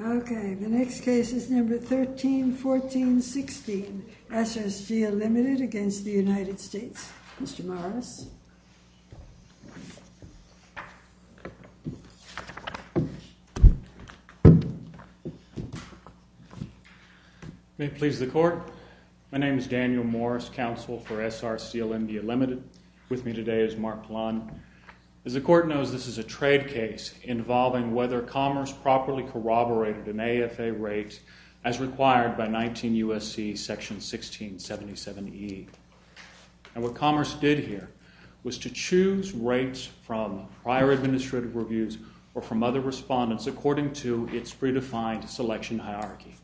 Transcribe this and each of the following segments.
Okay, the next case is number 13-14-16, SSGA limited against the United States, Mr. Morris. May it please the court, my name is Daniel Morris, counsel for SRCLMDA limited. With me today is Mark Plon. As the court knows, this is a trade case involving whether commerce properly corroborated an AFA rate as required by 19 U.S.C. section 1677E. And what commerce did here was to choose rates from prior administrative reviews or from other respondents according to its predefined selection hierarchy.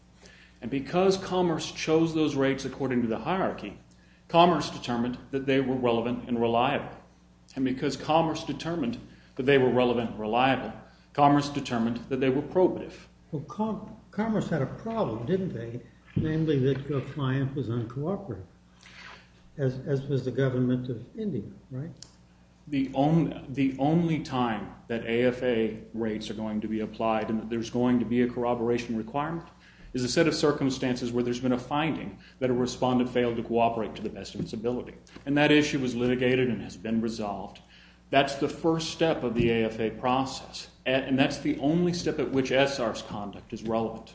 And because commerce chose those rates according to the hierarchy, commerce determined that they were relevant and reliable. And because commerce determined that they were relevant and reliable, commerce determined that they were probative. Well, commerce had a problem, didn't they? Namely, that your client was uncooperative, as was the government of India, right? The only time that AFA rates are going to be applied and that there's going to be a corroboration requirement is a set of circumstances where there's been a finding that a respondent failed to cooperate to the best of its ability. And that issue was litigated and has been resolved. That's the first step of the AFA process. And that's the only step at which ESSAR's conduct is relevant.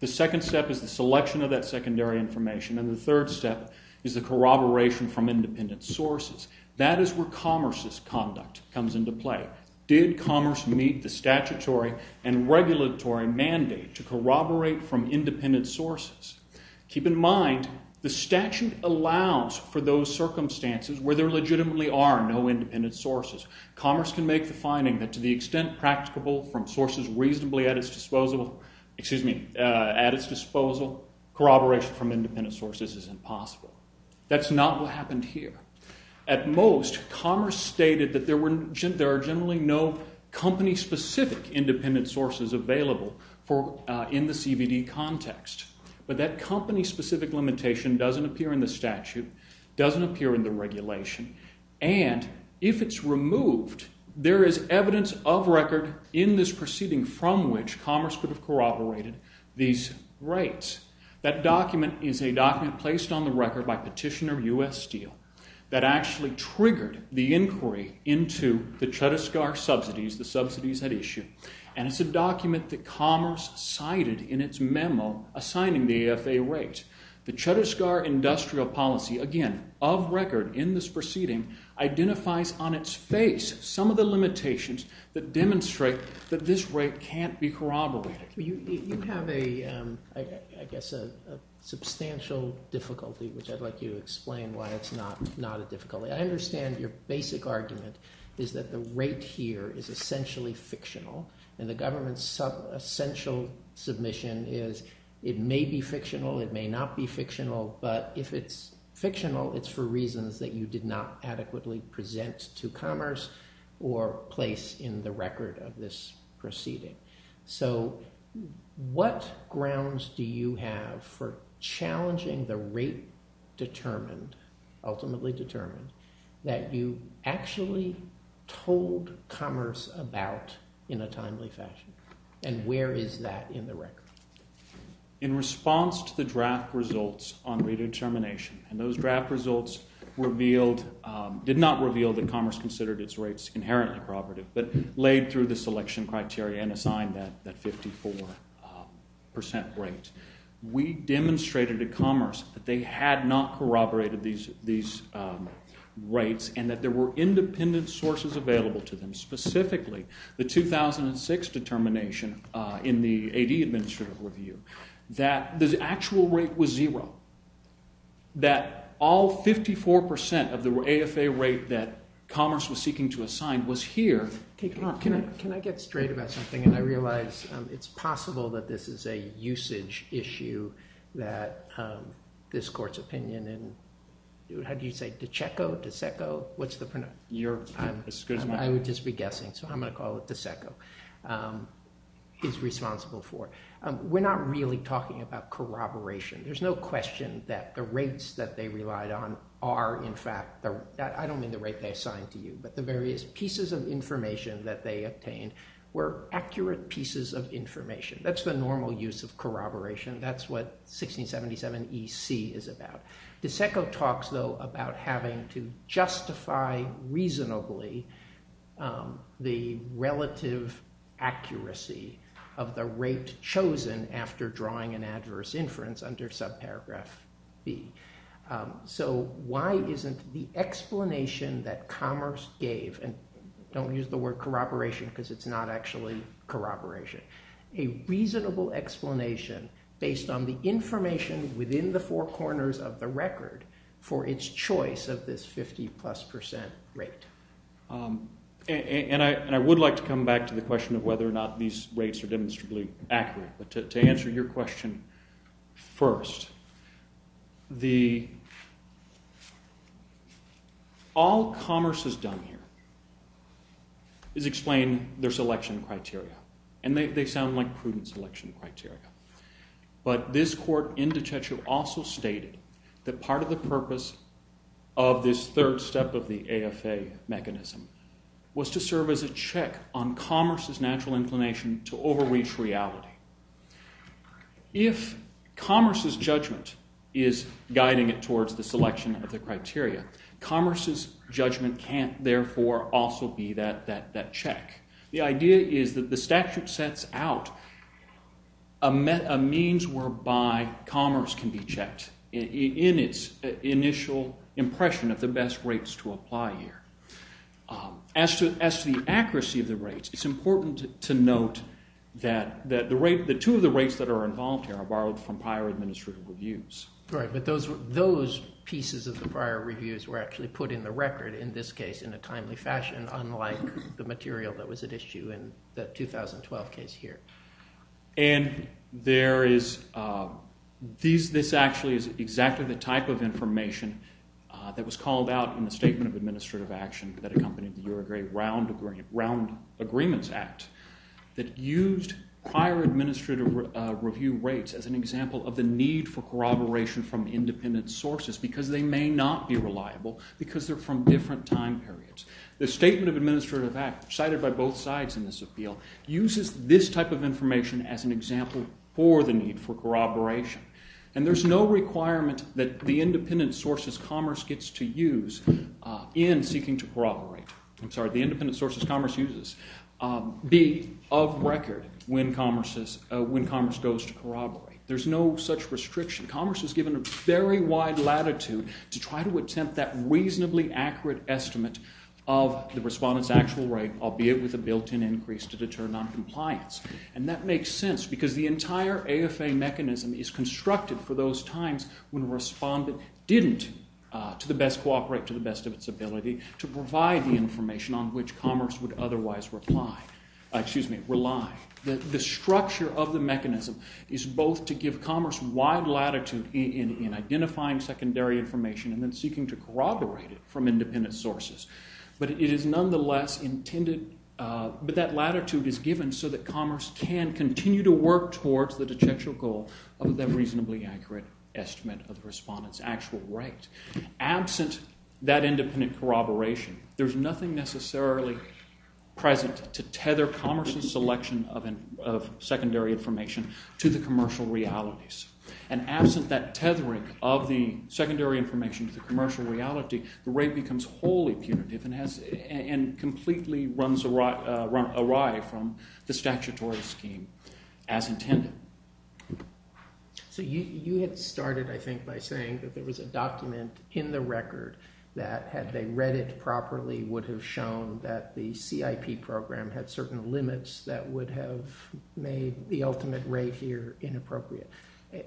The second step is the selection of that secondary information. And the third step is the corroboration from independent sources. That is where commerce's conduct comes into play. Did commerce meet the statutory and regulatory mandate to corroborate from independent sources? Keep in mind, the statute allows for those circumstances where there legitimately are no independent sources. Commerce can make the finding that to the state at its disposal, excuse me, at its disposal, corroboration from independent sources is impossible. That's not what happened here. At most, commerce stated that there are generally no company-specific independent sources available in the CVD context. But that company-specific limitation doesn't appear in the statute, doesn't appear in the regulation. And if it's commerce, commerce could have corroborated these rates. That document is a document placed on the record by Petitioner U.S. Steel that actually triggered the inquiry into the Chhattisgarh subsidies, the subsidies at issue. And it's a document that commerce cited in its memo assigning the AFA rate. The Chhattisgarh industrial policy, again, of record in this proceeding, identifies on its face some of the limitations that demonstrate that this rate can't be corroborated. You have a, I guess, a substantial difficulty, which I'd like you to explain why it's not a difficulty. I understand your basic argument is that the rate here is essentially fictional, and the government's essential submission is it may be fictional, it may not be fictional, but if it's fictional, it's for reasons that you did not adequately present to commerce or place in the record of this proceeding. So what grounds do you have for challenging the rate determined, ultimately determined, that you actually told commerce about in a timely fashion? And where is that in the record? In response to the draft results on rate determination, and those draft results revealed, did not reveal that commerce considered its rates inherently corroborative, but laid through the selection criteria and assigned that 54% rate, we demonstrated to commerce that they had not corroborated these rates and that there were independent sources available to them, specifically the 2006 determination in the AD Administrative Review, that the actual rate was zero, that all 54% of the AFA rate that commerce was seeking to assign was here. Can I get straight about something, and I realize it's possible that this is a usage issue that this court's opinion, and how do you say, decheco, dececo, what's the pronoun? I would just be guessing, so I'm going to call it decheco, is responsible for. We're not really talking about corroboration. There's no question that the rates that they relied on are, in fact, I don't mean the rate they assigned to you, but the various pieces of information that they obtained were accurate pieces of information. That's the normal use of corroboration. That's what 1677 EC is about. Decheco talks, though, about having to justify reasonably the relative accuracy of the rate chosen after drawing an adverse inference under subparagraph B. Why isn't the explanation that commerce gave, and don't use the word corroboration because it's not actually corroboration, a reasonable explanation based on the information within the four corners of the record for its choice of this 50 plus percent rate? I would like to come back to the question of whether or not these rates are demonstrably accurate, but to answer your question first, all commerce has done here is explain their selection criteria, but this court in Decheco also stated that part of the purpose of this third step of the AFA mechanism was to serve as a check on commerce's natural inclination to overreach reality. If commerce's judgment is guiding it towards the selection of the criteria, commerce's judgment can't, therefore, also be that check. The idea is that the statute sets out a means whereby commerce can be checked in its initial impression of the best rates to apply here. As to the accuracy of the rates, it's important to note that the two of the rates that are involved here are borrowed from prior administrative reviews. Right, but those pieces of the prior reviews were actually put in the record in this case in a timely fashion, unlike the material that was at issue in the 2012 case here. This actually is exactly the type of information that was called out in the Statement of Administrative Action that accompanied the Uruguay Round Agreements Act that used prior administrative review rates as an example of the need for corroboration from independent sources because they may not be reliable because they're from different time periods. The Statement of Administrative Act, cited by both sides in this appeal, uses this type of information as an example for the need for corroboration. And there's no requirement that the independent sources commerce gets to use in seeking to corroborate, I'm sorry, the independent sources commerce uses, be of record when commerce goes to corroborate. There's no such restriction. Commerce is given a very wide latitude to try to attempt that reasonably accurate estimate of the respondent's actual rate, albeit with a built-in increase to deter noncompliance. And that makes sense because the entire AFA mechanism is constructed for those times when a respondent didn't, to the best cooperate, to the best of its ability, to provide the information on which commerce would otherwise reply, excuse me, rely. The structure of the statute in identifying secondary information and then seeking to corroborate it from independent sources. But it is nonetheless intended, but that latitude is given so that commerce can continue to work towards the dejectual goal of the reasonably accurate estimate of the respondent's actual rate. Absent that independent corroboration, there's nothing necessarily present to tether commerce's selection of secondary information to the commercial realities. And absent that tethering of the secondary information to the commercial reality, the rate becomes wholly punitive and has, and completely runs awry from the statutory scheme as intended. So you had started, I think, by saying that there was a document in the record that, had they read it properly, would have shown that the CIP program had certain limits that would have made the ultimate rate here inappropriate.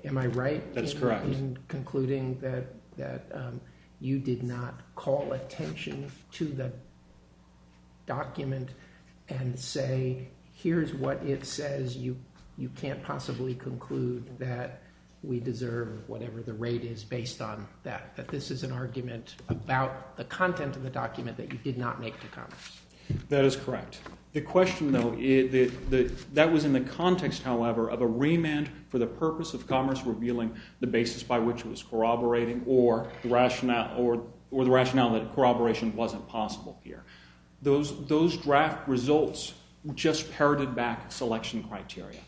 Am I right in concluding that you did not call attention to the document and say, here's what it says, you can't possibly conclude that we deserve whatever the rate is based on that. That this is an argument about the content of the document that you did not make to commerce. That is correct. The question, though, that was in the context, however, of a remand for the purpose of commerce revealing the basis by which it was corroborating or the rationale that corroboration wasn't possible here. Those draft results just parroted back selection criteria.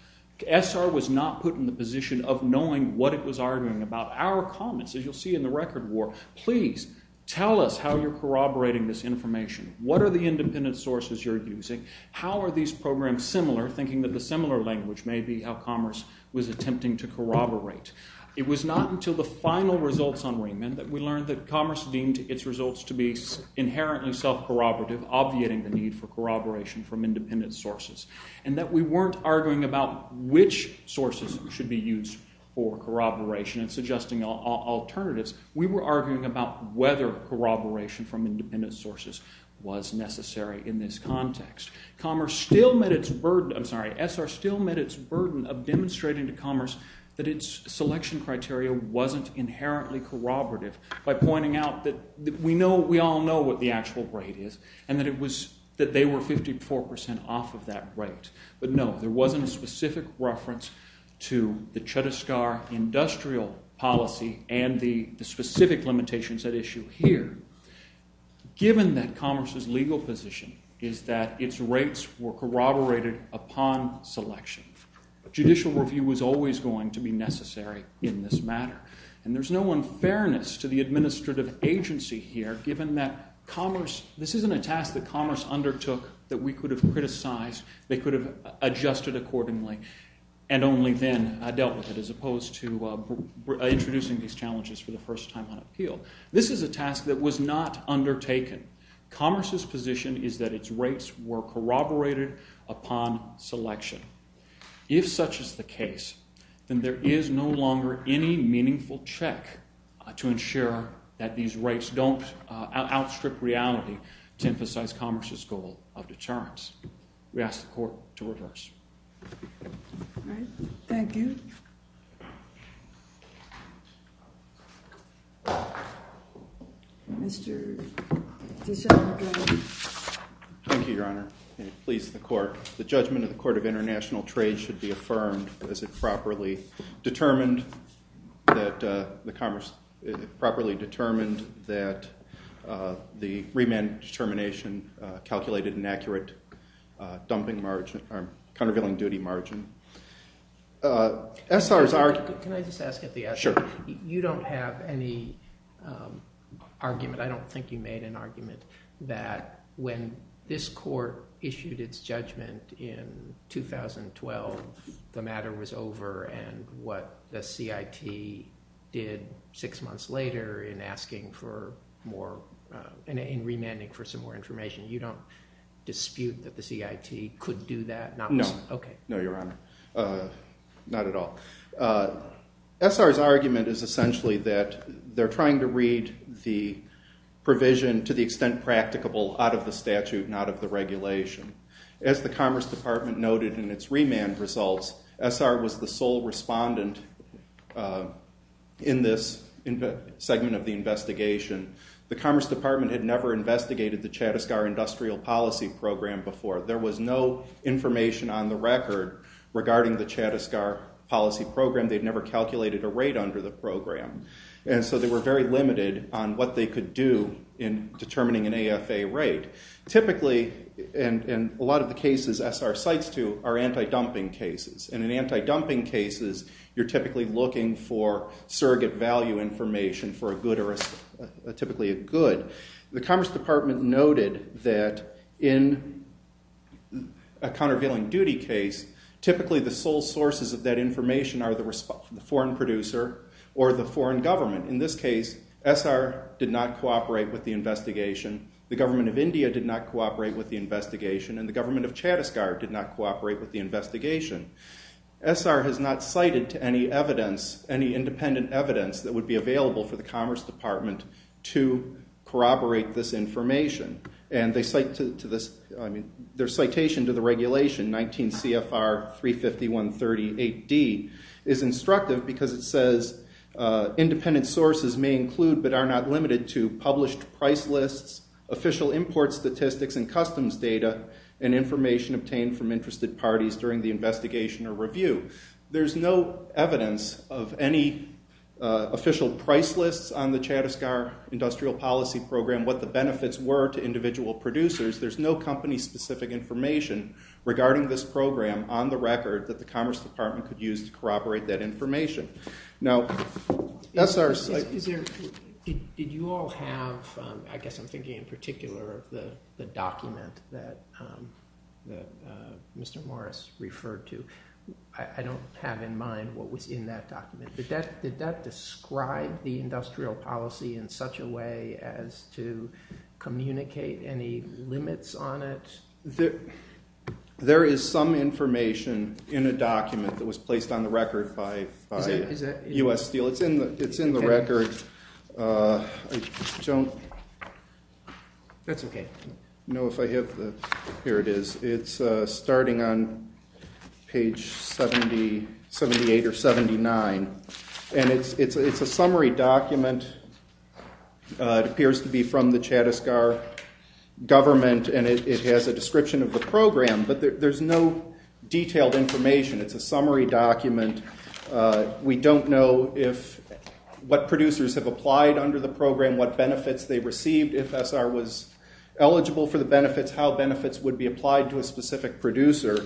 SR was not put in the position of knowing what it was arguing about. Our comments, as you'll see in the record, were, please, tell us how you're corroborating this information. What are the independent sources you're using? How are these programs similar, thinking that the similar language may be how commerce was attempting to corroborate. It was not until the final results on remand that we learned that commerce deemed its results to be inherently self-corroborative, obviating the need for corroboration from independent sources. And that we weren't arguing about which sources should be used for corroboration and suggesting alternatives. We were arguing about whether corroboration from independent sources was necessary in this context. Commerce still met its burden, I'm sorry, SR still met its burden of demonstrating to commerce that its selection criteria wasn't inherently corroborative by pointing out that we know, we all know what the actual rate is and that it was, that they were 54% off of that rate. But no, there wasn't a specific reference to the Chhattisgarh industrial policy and the specific limitations at issue here, given that commerce's legal position is that its rates were corroborated upon selection. Judicial review was always going to be necessary in this matter. And there's no unfairness to the administrative agency here, given that commerce, this isn't a task that commerce undertook that we could have criticized, they could have adjusted accordingly, and only then dealt with it, as opposed to introducing these challenges for the first time on appeal. This is a task that was not undertaken. Commerce's position is that its rates were corroborated upon selection. If such is the case, then there is no longer any meaningful check to ensure that these rates don't outstrip reality to emphasize commerce's goal of deterrence. We ask the court to adjourn. Thank you, Your Honor. Please, the court. The judgment of the Court of International Trade should be affirmed as it properly determined that the commerce, it properly determined that the remand determination calculated an accurate dumping margin, or countervailing duty margin. Can I just ask at the outset, you don't have any argument, I don't think you made an argument that when this court issued its judgment in 2012, the matter was over, and what the CIT did six months later in asking for more, in remanding for some more information, you don't dispute that the CIT could do that? No. Okay. No, Your Honor. Not at all. SR's argument is essentially that they're trying to read the provision to the extent practicable out of the statute, not of the regulation. As the Commerce Department noted in its remand results, SR was the sole respondent in this segment of the investigation. The Commerce Department had never investigated the Chattisgar Policy Program before. There was no information on the record regarding the Chattisgar Policy Program. They'd never calculated a rate under the program. And so they were very limited on what they could do in determining an AFA rate. Typically, and a lot of the cases SR cites to, are anti-dumping cases. And in anti-dumping cases, you're typically looking for surrogate value information for a good or a, typically a good. The Commerce Department noted that in a countervailing duty case, typically the sole sources of that information are the foreign producer or the foreign government. In this case, SR did not cooperate with the investigation. The government of India did not cooperate with the investigation, and the government of Chattisgar did not cooperate with the investigation. SR has not cited to any evidence, any independent evidence that would be available for the Commerce Department to corroborate this information. And they cite to this, I mean, their citation to the regulation, 19 CFR 35138D, is instructive because it says, independent sources may include but are not limited to published price lists, official import statistics and customs data, and information obtained from interested parties during the investigation or review. There's no evidence of any official price lists on the Chattisgar Industrial Policy Program, what the benefits were to individual producers. There's no company-specific information regarding this program on the record that the Commerce Department could use to corroborate that information. Now, SRs, I- Is there, did you all have, I guess I'm thinking in particular of the document that Mr. Morris referred to. I don't have in mind what was in that document, but that, did that describe the industrial policy in such a way as to communicate any limits on it? There is some information in a document that was placed on the record by U.S. Steel. It's in the record. I don't know if I have the, here it is. It's starting on, I think it's page 70, 78 or 79. And it's a summary document. It appears to be from the Chattisgar government and it has a description of the program, but there's no detailed information. It's a summary document. We don't know if, what producers have applied under the program, what benefits they received. If SR was eligible for the benefits, how benefits would be applied to a specific producer?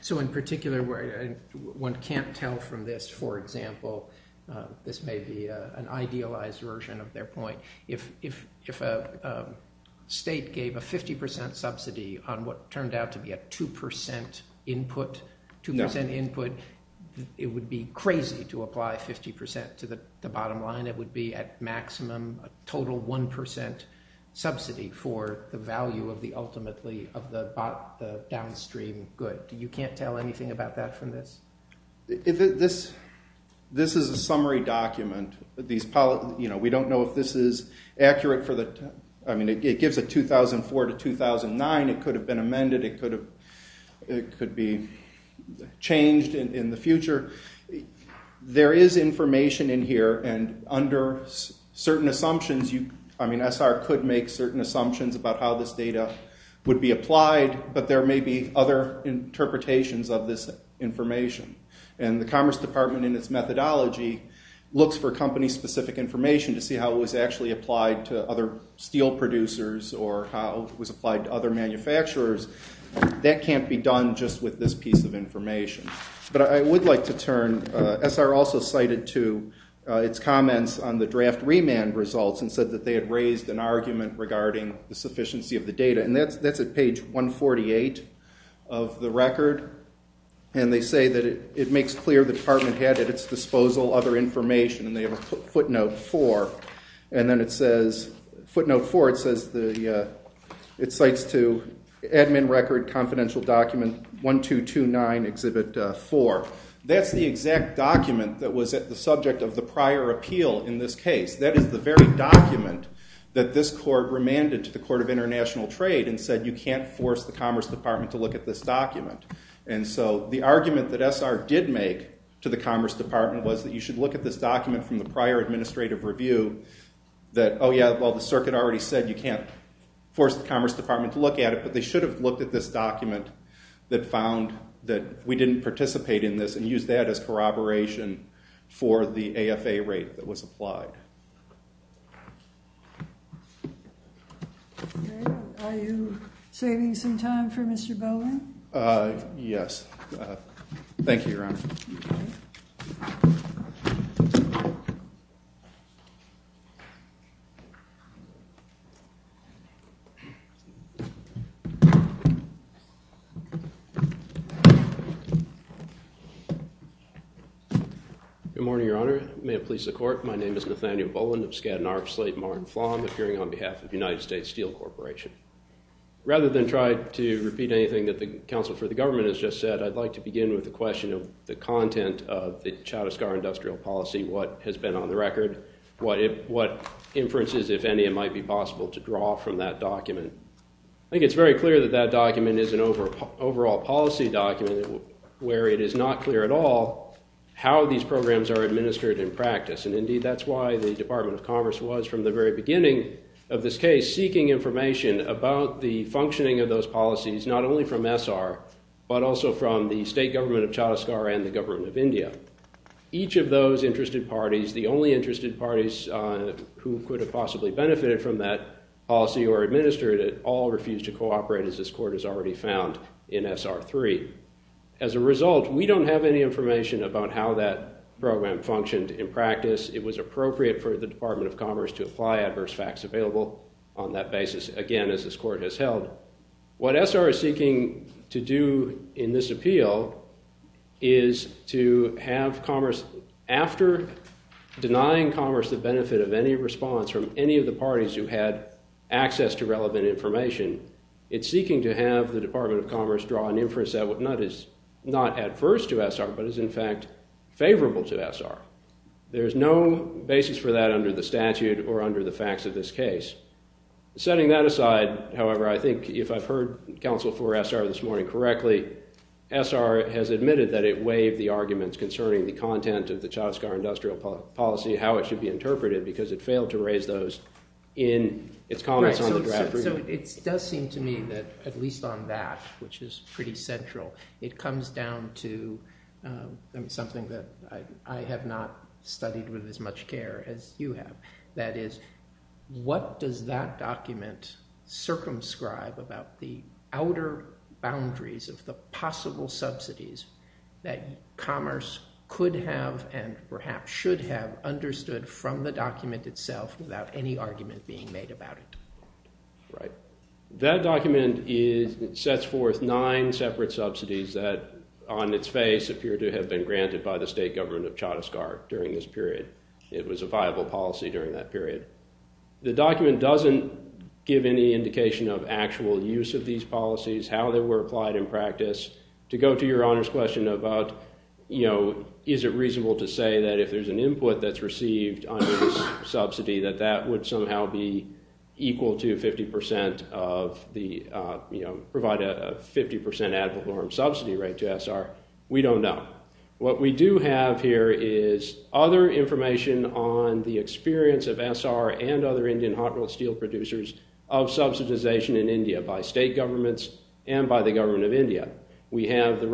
So in particular, one can't tell from this, for example, this may be an idealized version of their point. If a state gave a 50% subsidy on what turned out to be a 2% input, 2% input, it would be crazy to apply 50% to the bottom line. It would be at maximum a total 1% subsidy for the value of the ultimately of the downstream good. You can't tell anything about that from this? This is a summary document. We don't know if this is accurate for the, I mean it gives a 2004 to 2009. It could have been amended. It could be changed in the future. There is information in here and under certain assumptions, I mean SR could make certain assumptions about how this data would be applied, but there may be other interpretations of this information. And the Commerce Department in its methodology looks for company specific information to see how it was actually applied to other steel producers or how it was applied to other manufacturers. That can't be done just with this piece of information. But I would like to turn, SR also cited to its comments on the draft remand results and said that they had raised an argument regarding the sufficiency of the data. And that's at page 148 of the record. And they say that it makes clear the department had at its disposal other information and they have a footnote 4. And then it says, footnote 4 it says the, it cites to admin record confidential document 1229 exhibit 4. That's the exact document that was at the subject of the prior appeal in this case. That is the very document that this court remanded to the Court of International Trade and said you can't force the Commerce Department to look at this document. And so the argument that SR did make to the Commerce Department was that you should look at this document from the prior administrative review that, oh yeah, well the circuit already said you can't force the Commerce Department to look at it, but they should have looked at this document that found that we didn't participate in this and used that as corroboration for the AFA rate that was applied. Are you saving some time for Mr. Bowen? Yes. Thank you, Your Honor. Good morning, Your Honor. May it please the Court, my name is Nathaniel Bowen of Skadden Arpslate, Mar and Flom, appearing on behalf of the United States Steel Corporation. Rather than try to repeat anything that the counsel for the government has just said, I'd like to begin with the question of the content of the Chattisgarh industrial policy, what has been on the record, what inferences, if any, it might be possible to draw from that document. I think it's very clear that that document is an overall policy document where it is not clear at all how these programs are administered in practice, and indeed that's why the Department of Commerce was, from the very beginning of this case, seeking information about the functioning of those policies, not only from SR, but also from the state government of Chattisgarh and the government of India. Each of those interested parties, the only interested parties who could have possibly benefited from that policy or administered it all refused to cooperate, as this Court has already found in SR 3. As a result, we don't have any information about how that program functioned in practice. It was appropriate for the Department of Commerce to apply adverse facts available on that basis, again, as this Court has held. What SR is seeking to do in this appeal is to have Commerce, after denying Commerce the benefit of any response from any of the parties who had access to relevant information, it's seeking to have the Department of Commerce draw an inference that is not adverse to SR, but is in fact favorable to SR. There's no basis for that under the statute or under the facts of this case. Setting that aside, however, I think if I've heard counsel for SR this morning correctly, SR has admitted that it waived the arguments concerning the content of the Chattisgarh industrial policy, how it should be interpreted, because it failed to raise those in its comments on the draft review. So it does seem to me that, at least on that, which is pretty central, it comes down to something that I have not studied with as much care as you have. That is, what does that document circumscribe about the outer boundaries of the possible subsidies that Commerce could have and perhaps should have understood from the document itself without any argument being made about it. That document sets forth nine separate subsidies that, on its face, appear to have been granted by the state government of Chattisgarh during this period. It was a viable policy during that period. The document doesn't give any indication of actual use of these policies, how they were applied in practice. To go to your Honor's question about is it reasonable to say that if there's an input that's received under this subsidy that that would somehow be equal to 50% of the, provide a 50% ad valorem subsidy rate to SR, we don't know. What we do have here is other information on the experience of SR and other Indian hot-melt-steel producers of subsidization in India by state governments and by the government of India. We have the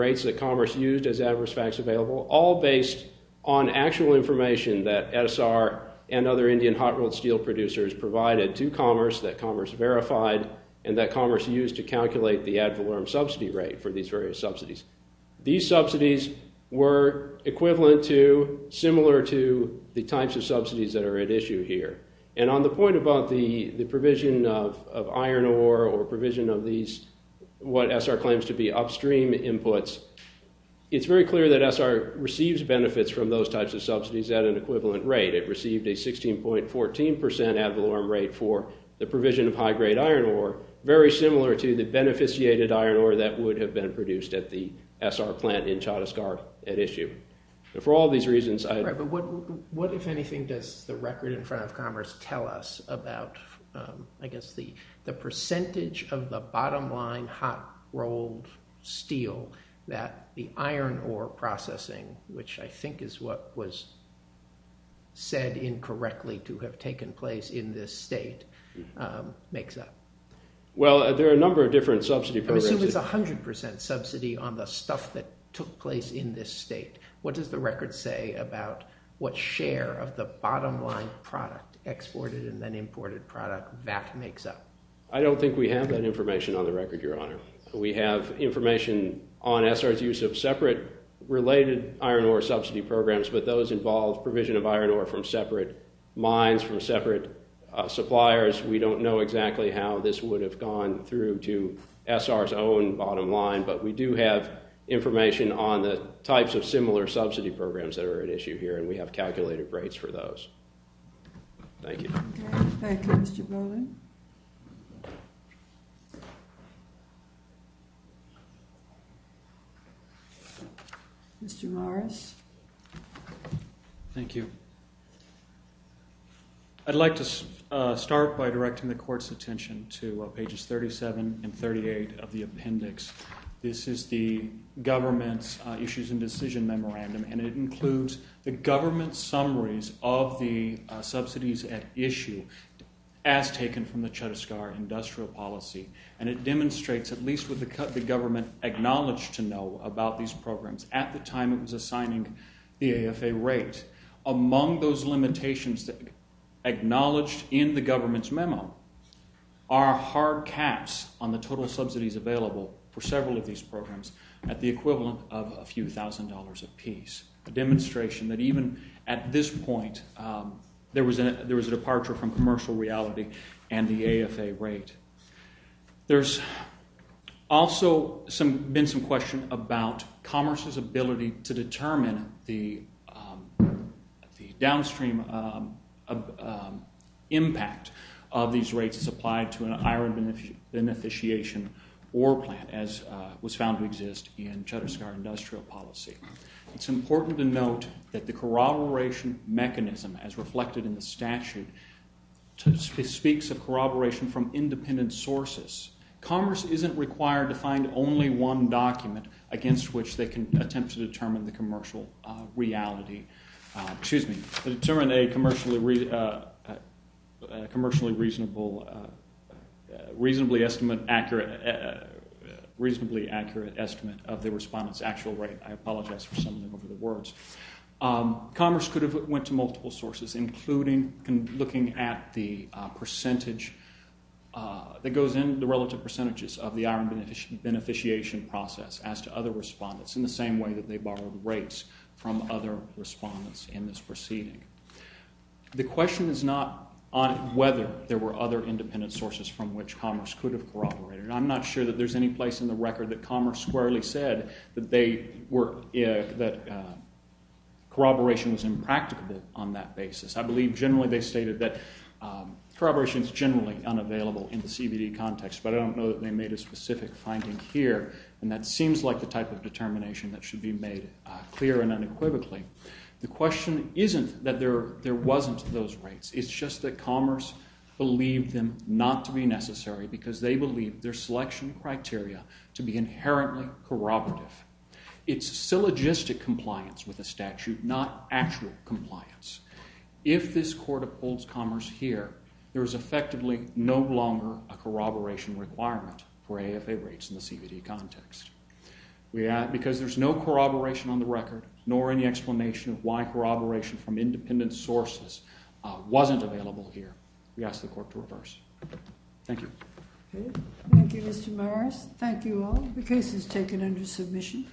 actual information that SR and other Indian hot-melt-steel producers provided to Commerce, that Commerce verified, and that Commerce used to calculate the ad valorem subsidy rate for these various subsidies. These subsidies were equivalent to, similar to, the types of subsidies that are at issue here. On the point about the provision of iron ore or provision of these, what SR claims to be upstream inputs, it's very clear that SR receives benefits from those types of subsidies at an equivalent rate. It received a 16.14% ad valorem rate for the provision of high-grade iron ore, very similar to the beneficiated iron ore that would have been produced at the SR plant in Chhattisgarh at issue. For all these reasons, I... Right, but what, if anything, does the record in front of Commerce tell us about, I guess, the percentage of the bottom-line hot-rolled steel that the iron ore processing, which I think is what was said incorrectly to have taken place in this state, makes up? Well, there are a number of different subsidy programs... I assume it's 100% subsidy on the stuff that took place in this state. What does the record say about what share of the bottom-line product, exported and then imported product, that makes up? I don't think we have that information on the record, Your Honor. We have information on SR's use of separate, related iron ore subsidy programs, but those involve provision of iron ore from separate mines, from separate suppliers. We don't know exactly how this would have gone through to SR's own bottom-line, but we do have information on the types of similar subsidy programs that are at issue here, and we have calculated rates for those. Thank you. Thank you, Mr. Bowling. Mr. Morris. Thank you. I'd like to start by directing the Court's attention to pages 37 and 38 of the appendix. This is the government's issues and decision memorandum, and it includes the government's summaries of the subsidies at issue, as taken from the Chhattisgarh Industrial Policy, and it demonstrates, at least what the government acknowledged to know about these programs at the time it was assigning the AFA rate. Among those limitations acknowledged in the government's memo are hard caps on the total subsidies available for several of these programs at the equivalent of a few thousand dollars apiece, a demonstration that even at this point there was a departure from commercial reality and the AFA rate. There's also been some question about commerce's ability to determine the downstream impact of these rates as applied to an iron beneficiation ore plant, as was found to exist in Chhattisgarh Industrial Policy. It's important to note that the corroboration mechanism, as reflected in the statute, speaks of corroboration from independent sources. Commerce isn't required to find only one document against which they can attempt to determine the commercial reality to determine a commercially reasonably accurate estimate of the respondent's actual rate. I apologize for some of the words. Commerce could have went to multiple sources, including looking at the percentage that goes in, the relative percentages, of the iron beneficiation process as to other respondents in the same way that they borrowed rates from other respondents in this proceeding. The question is not whether there were other independent sources from which commerce could have corroborated. I'm not sure that there's any place in the record that commerce squarely said that corroboration was impractical on that basis. I believe generally they stated that corroboration is generally unavailable in the CBD context, but I don't know that they made a specific finding here, and that seems like the type of determination that should be made clear and unequivocally. The question isn't that there wasn't those rates. It's just that commerce believed them not to be necessary because they believed their selection criteria to be inherently corroborative. It's syllogistic compliance with the statute, not actual compliance. If this court upholds commerce here, there is effectively no longer a corroboration requirement for AFA rates in the CBD context. Because there's no corroboration on the record, nor any explanation of why corroboration from independent sources wasn't available here, we ask the court to reverse. Thank you. Thank you, Mr. Morris. Thank you all. The case is taken under submission.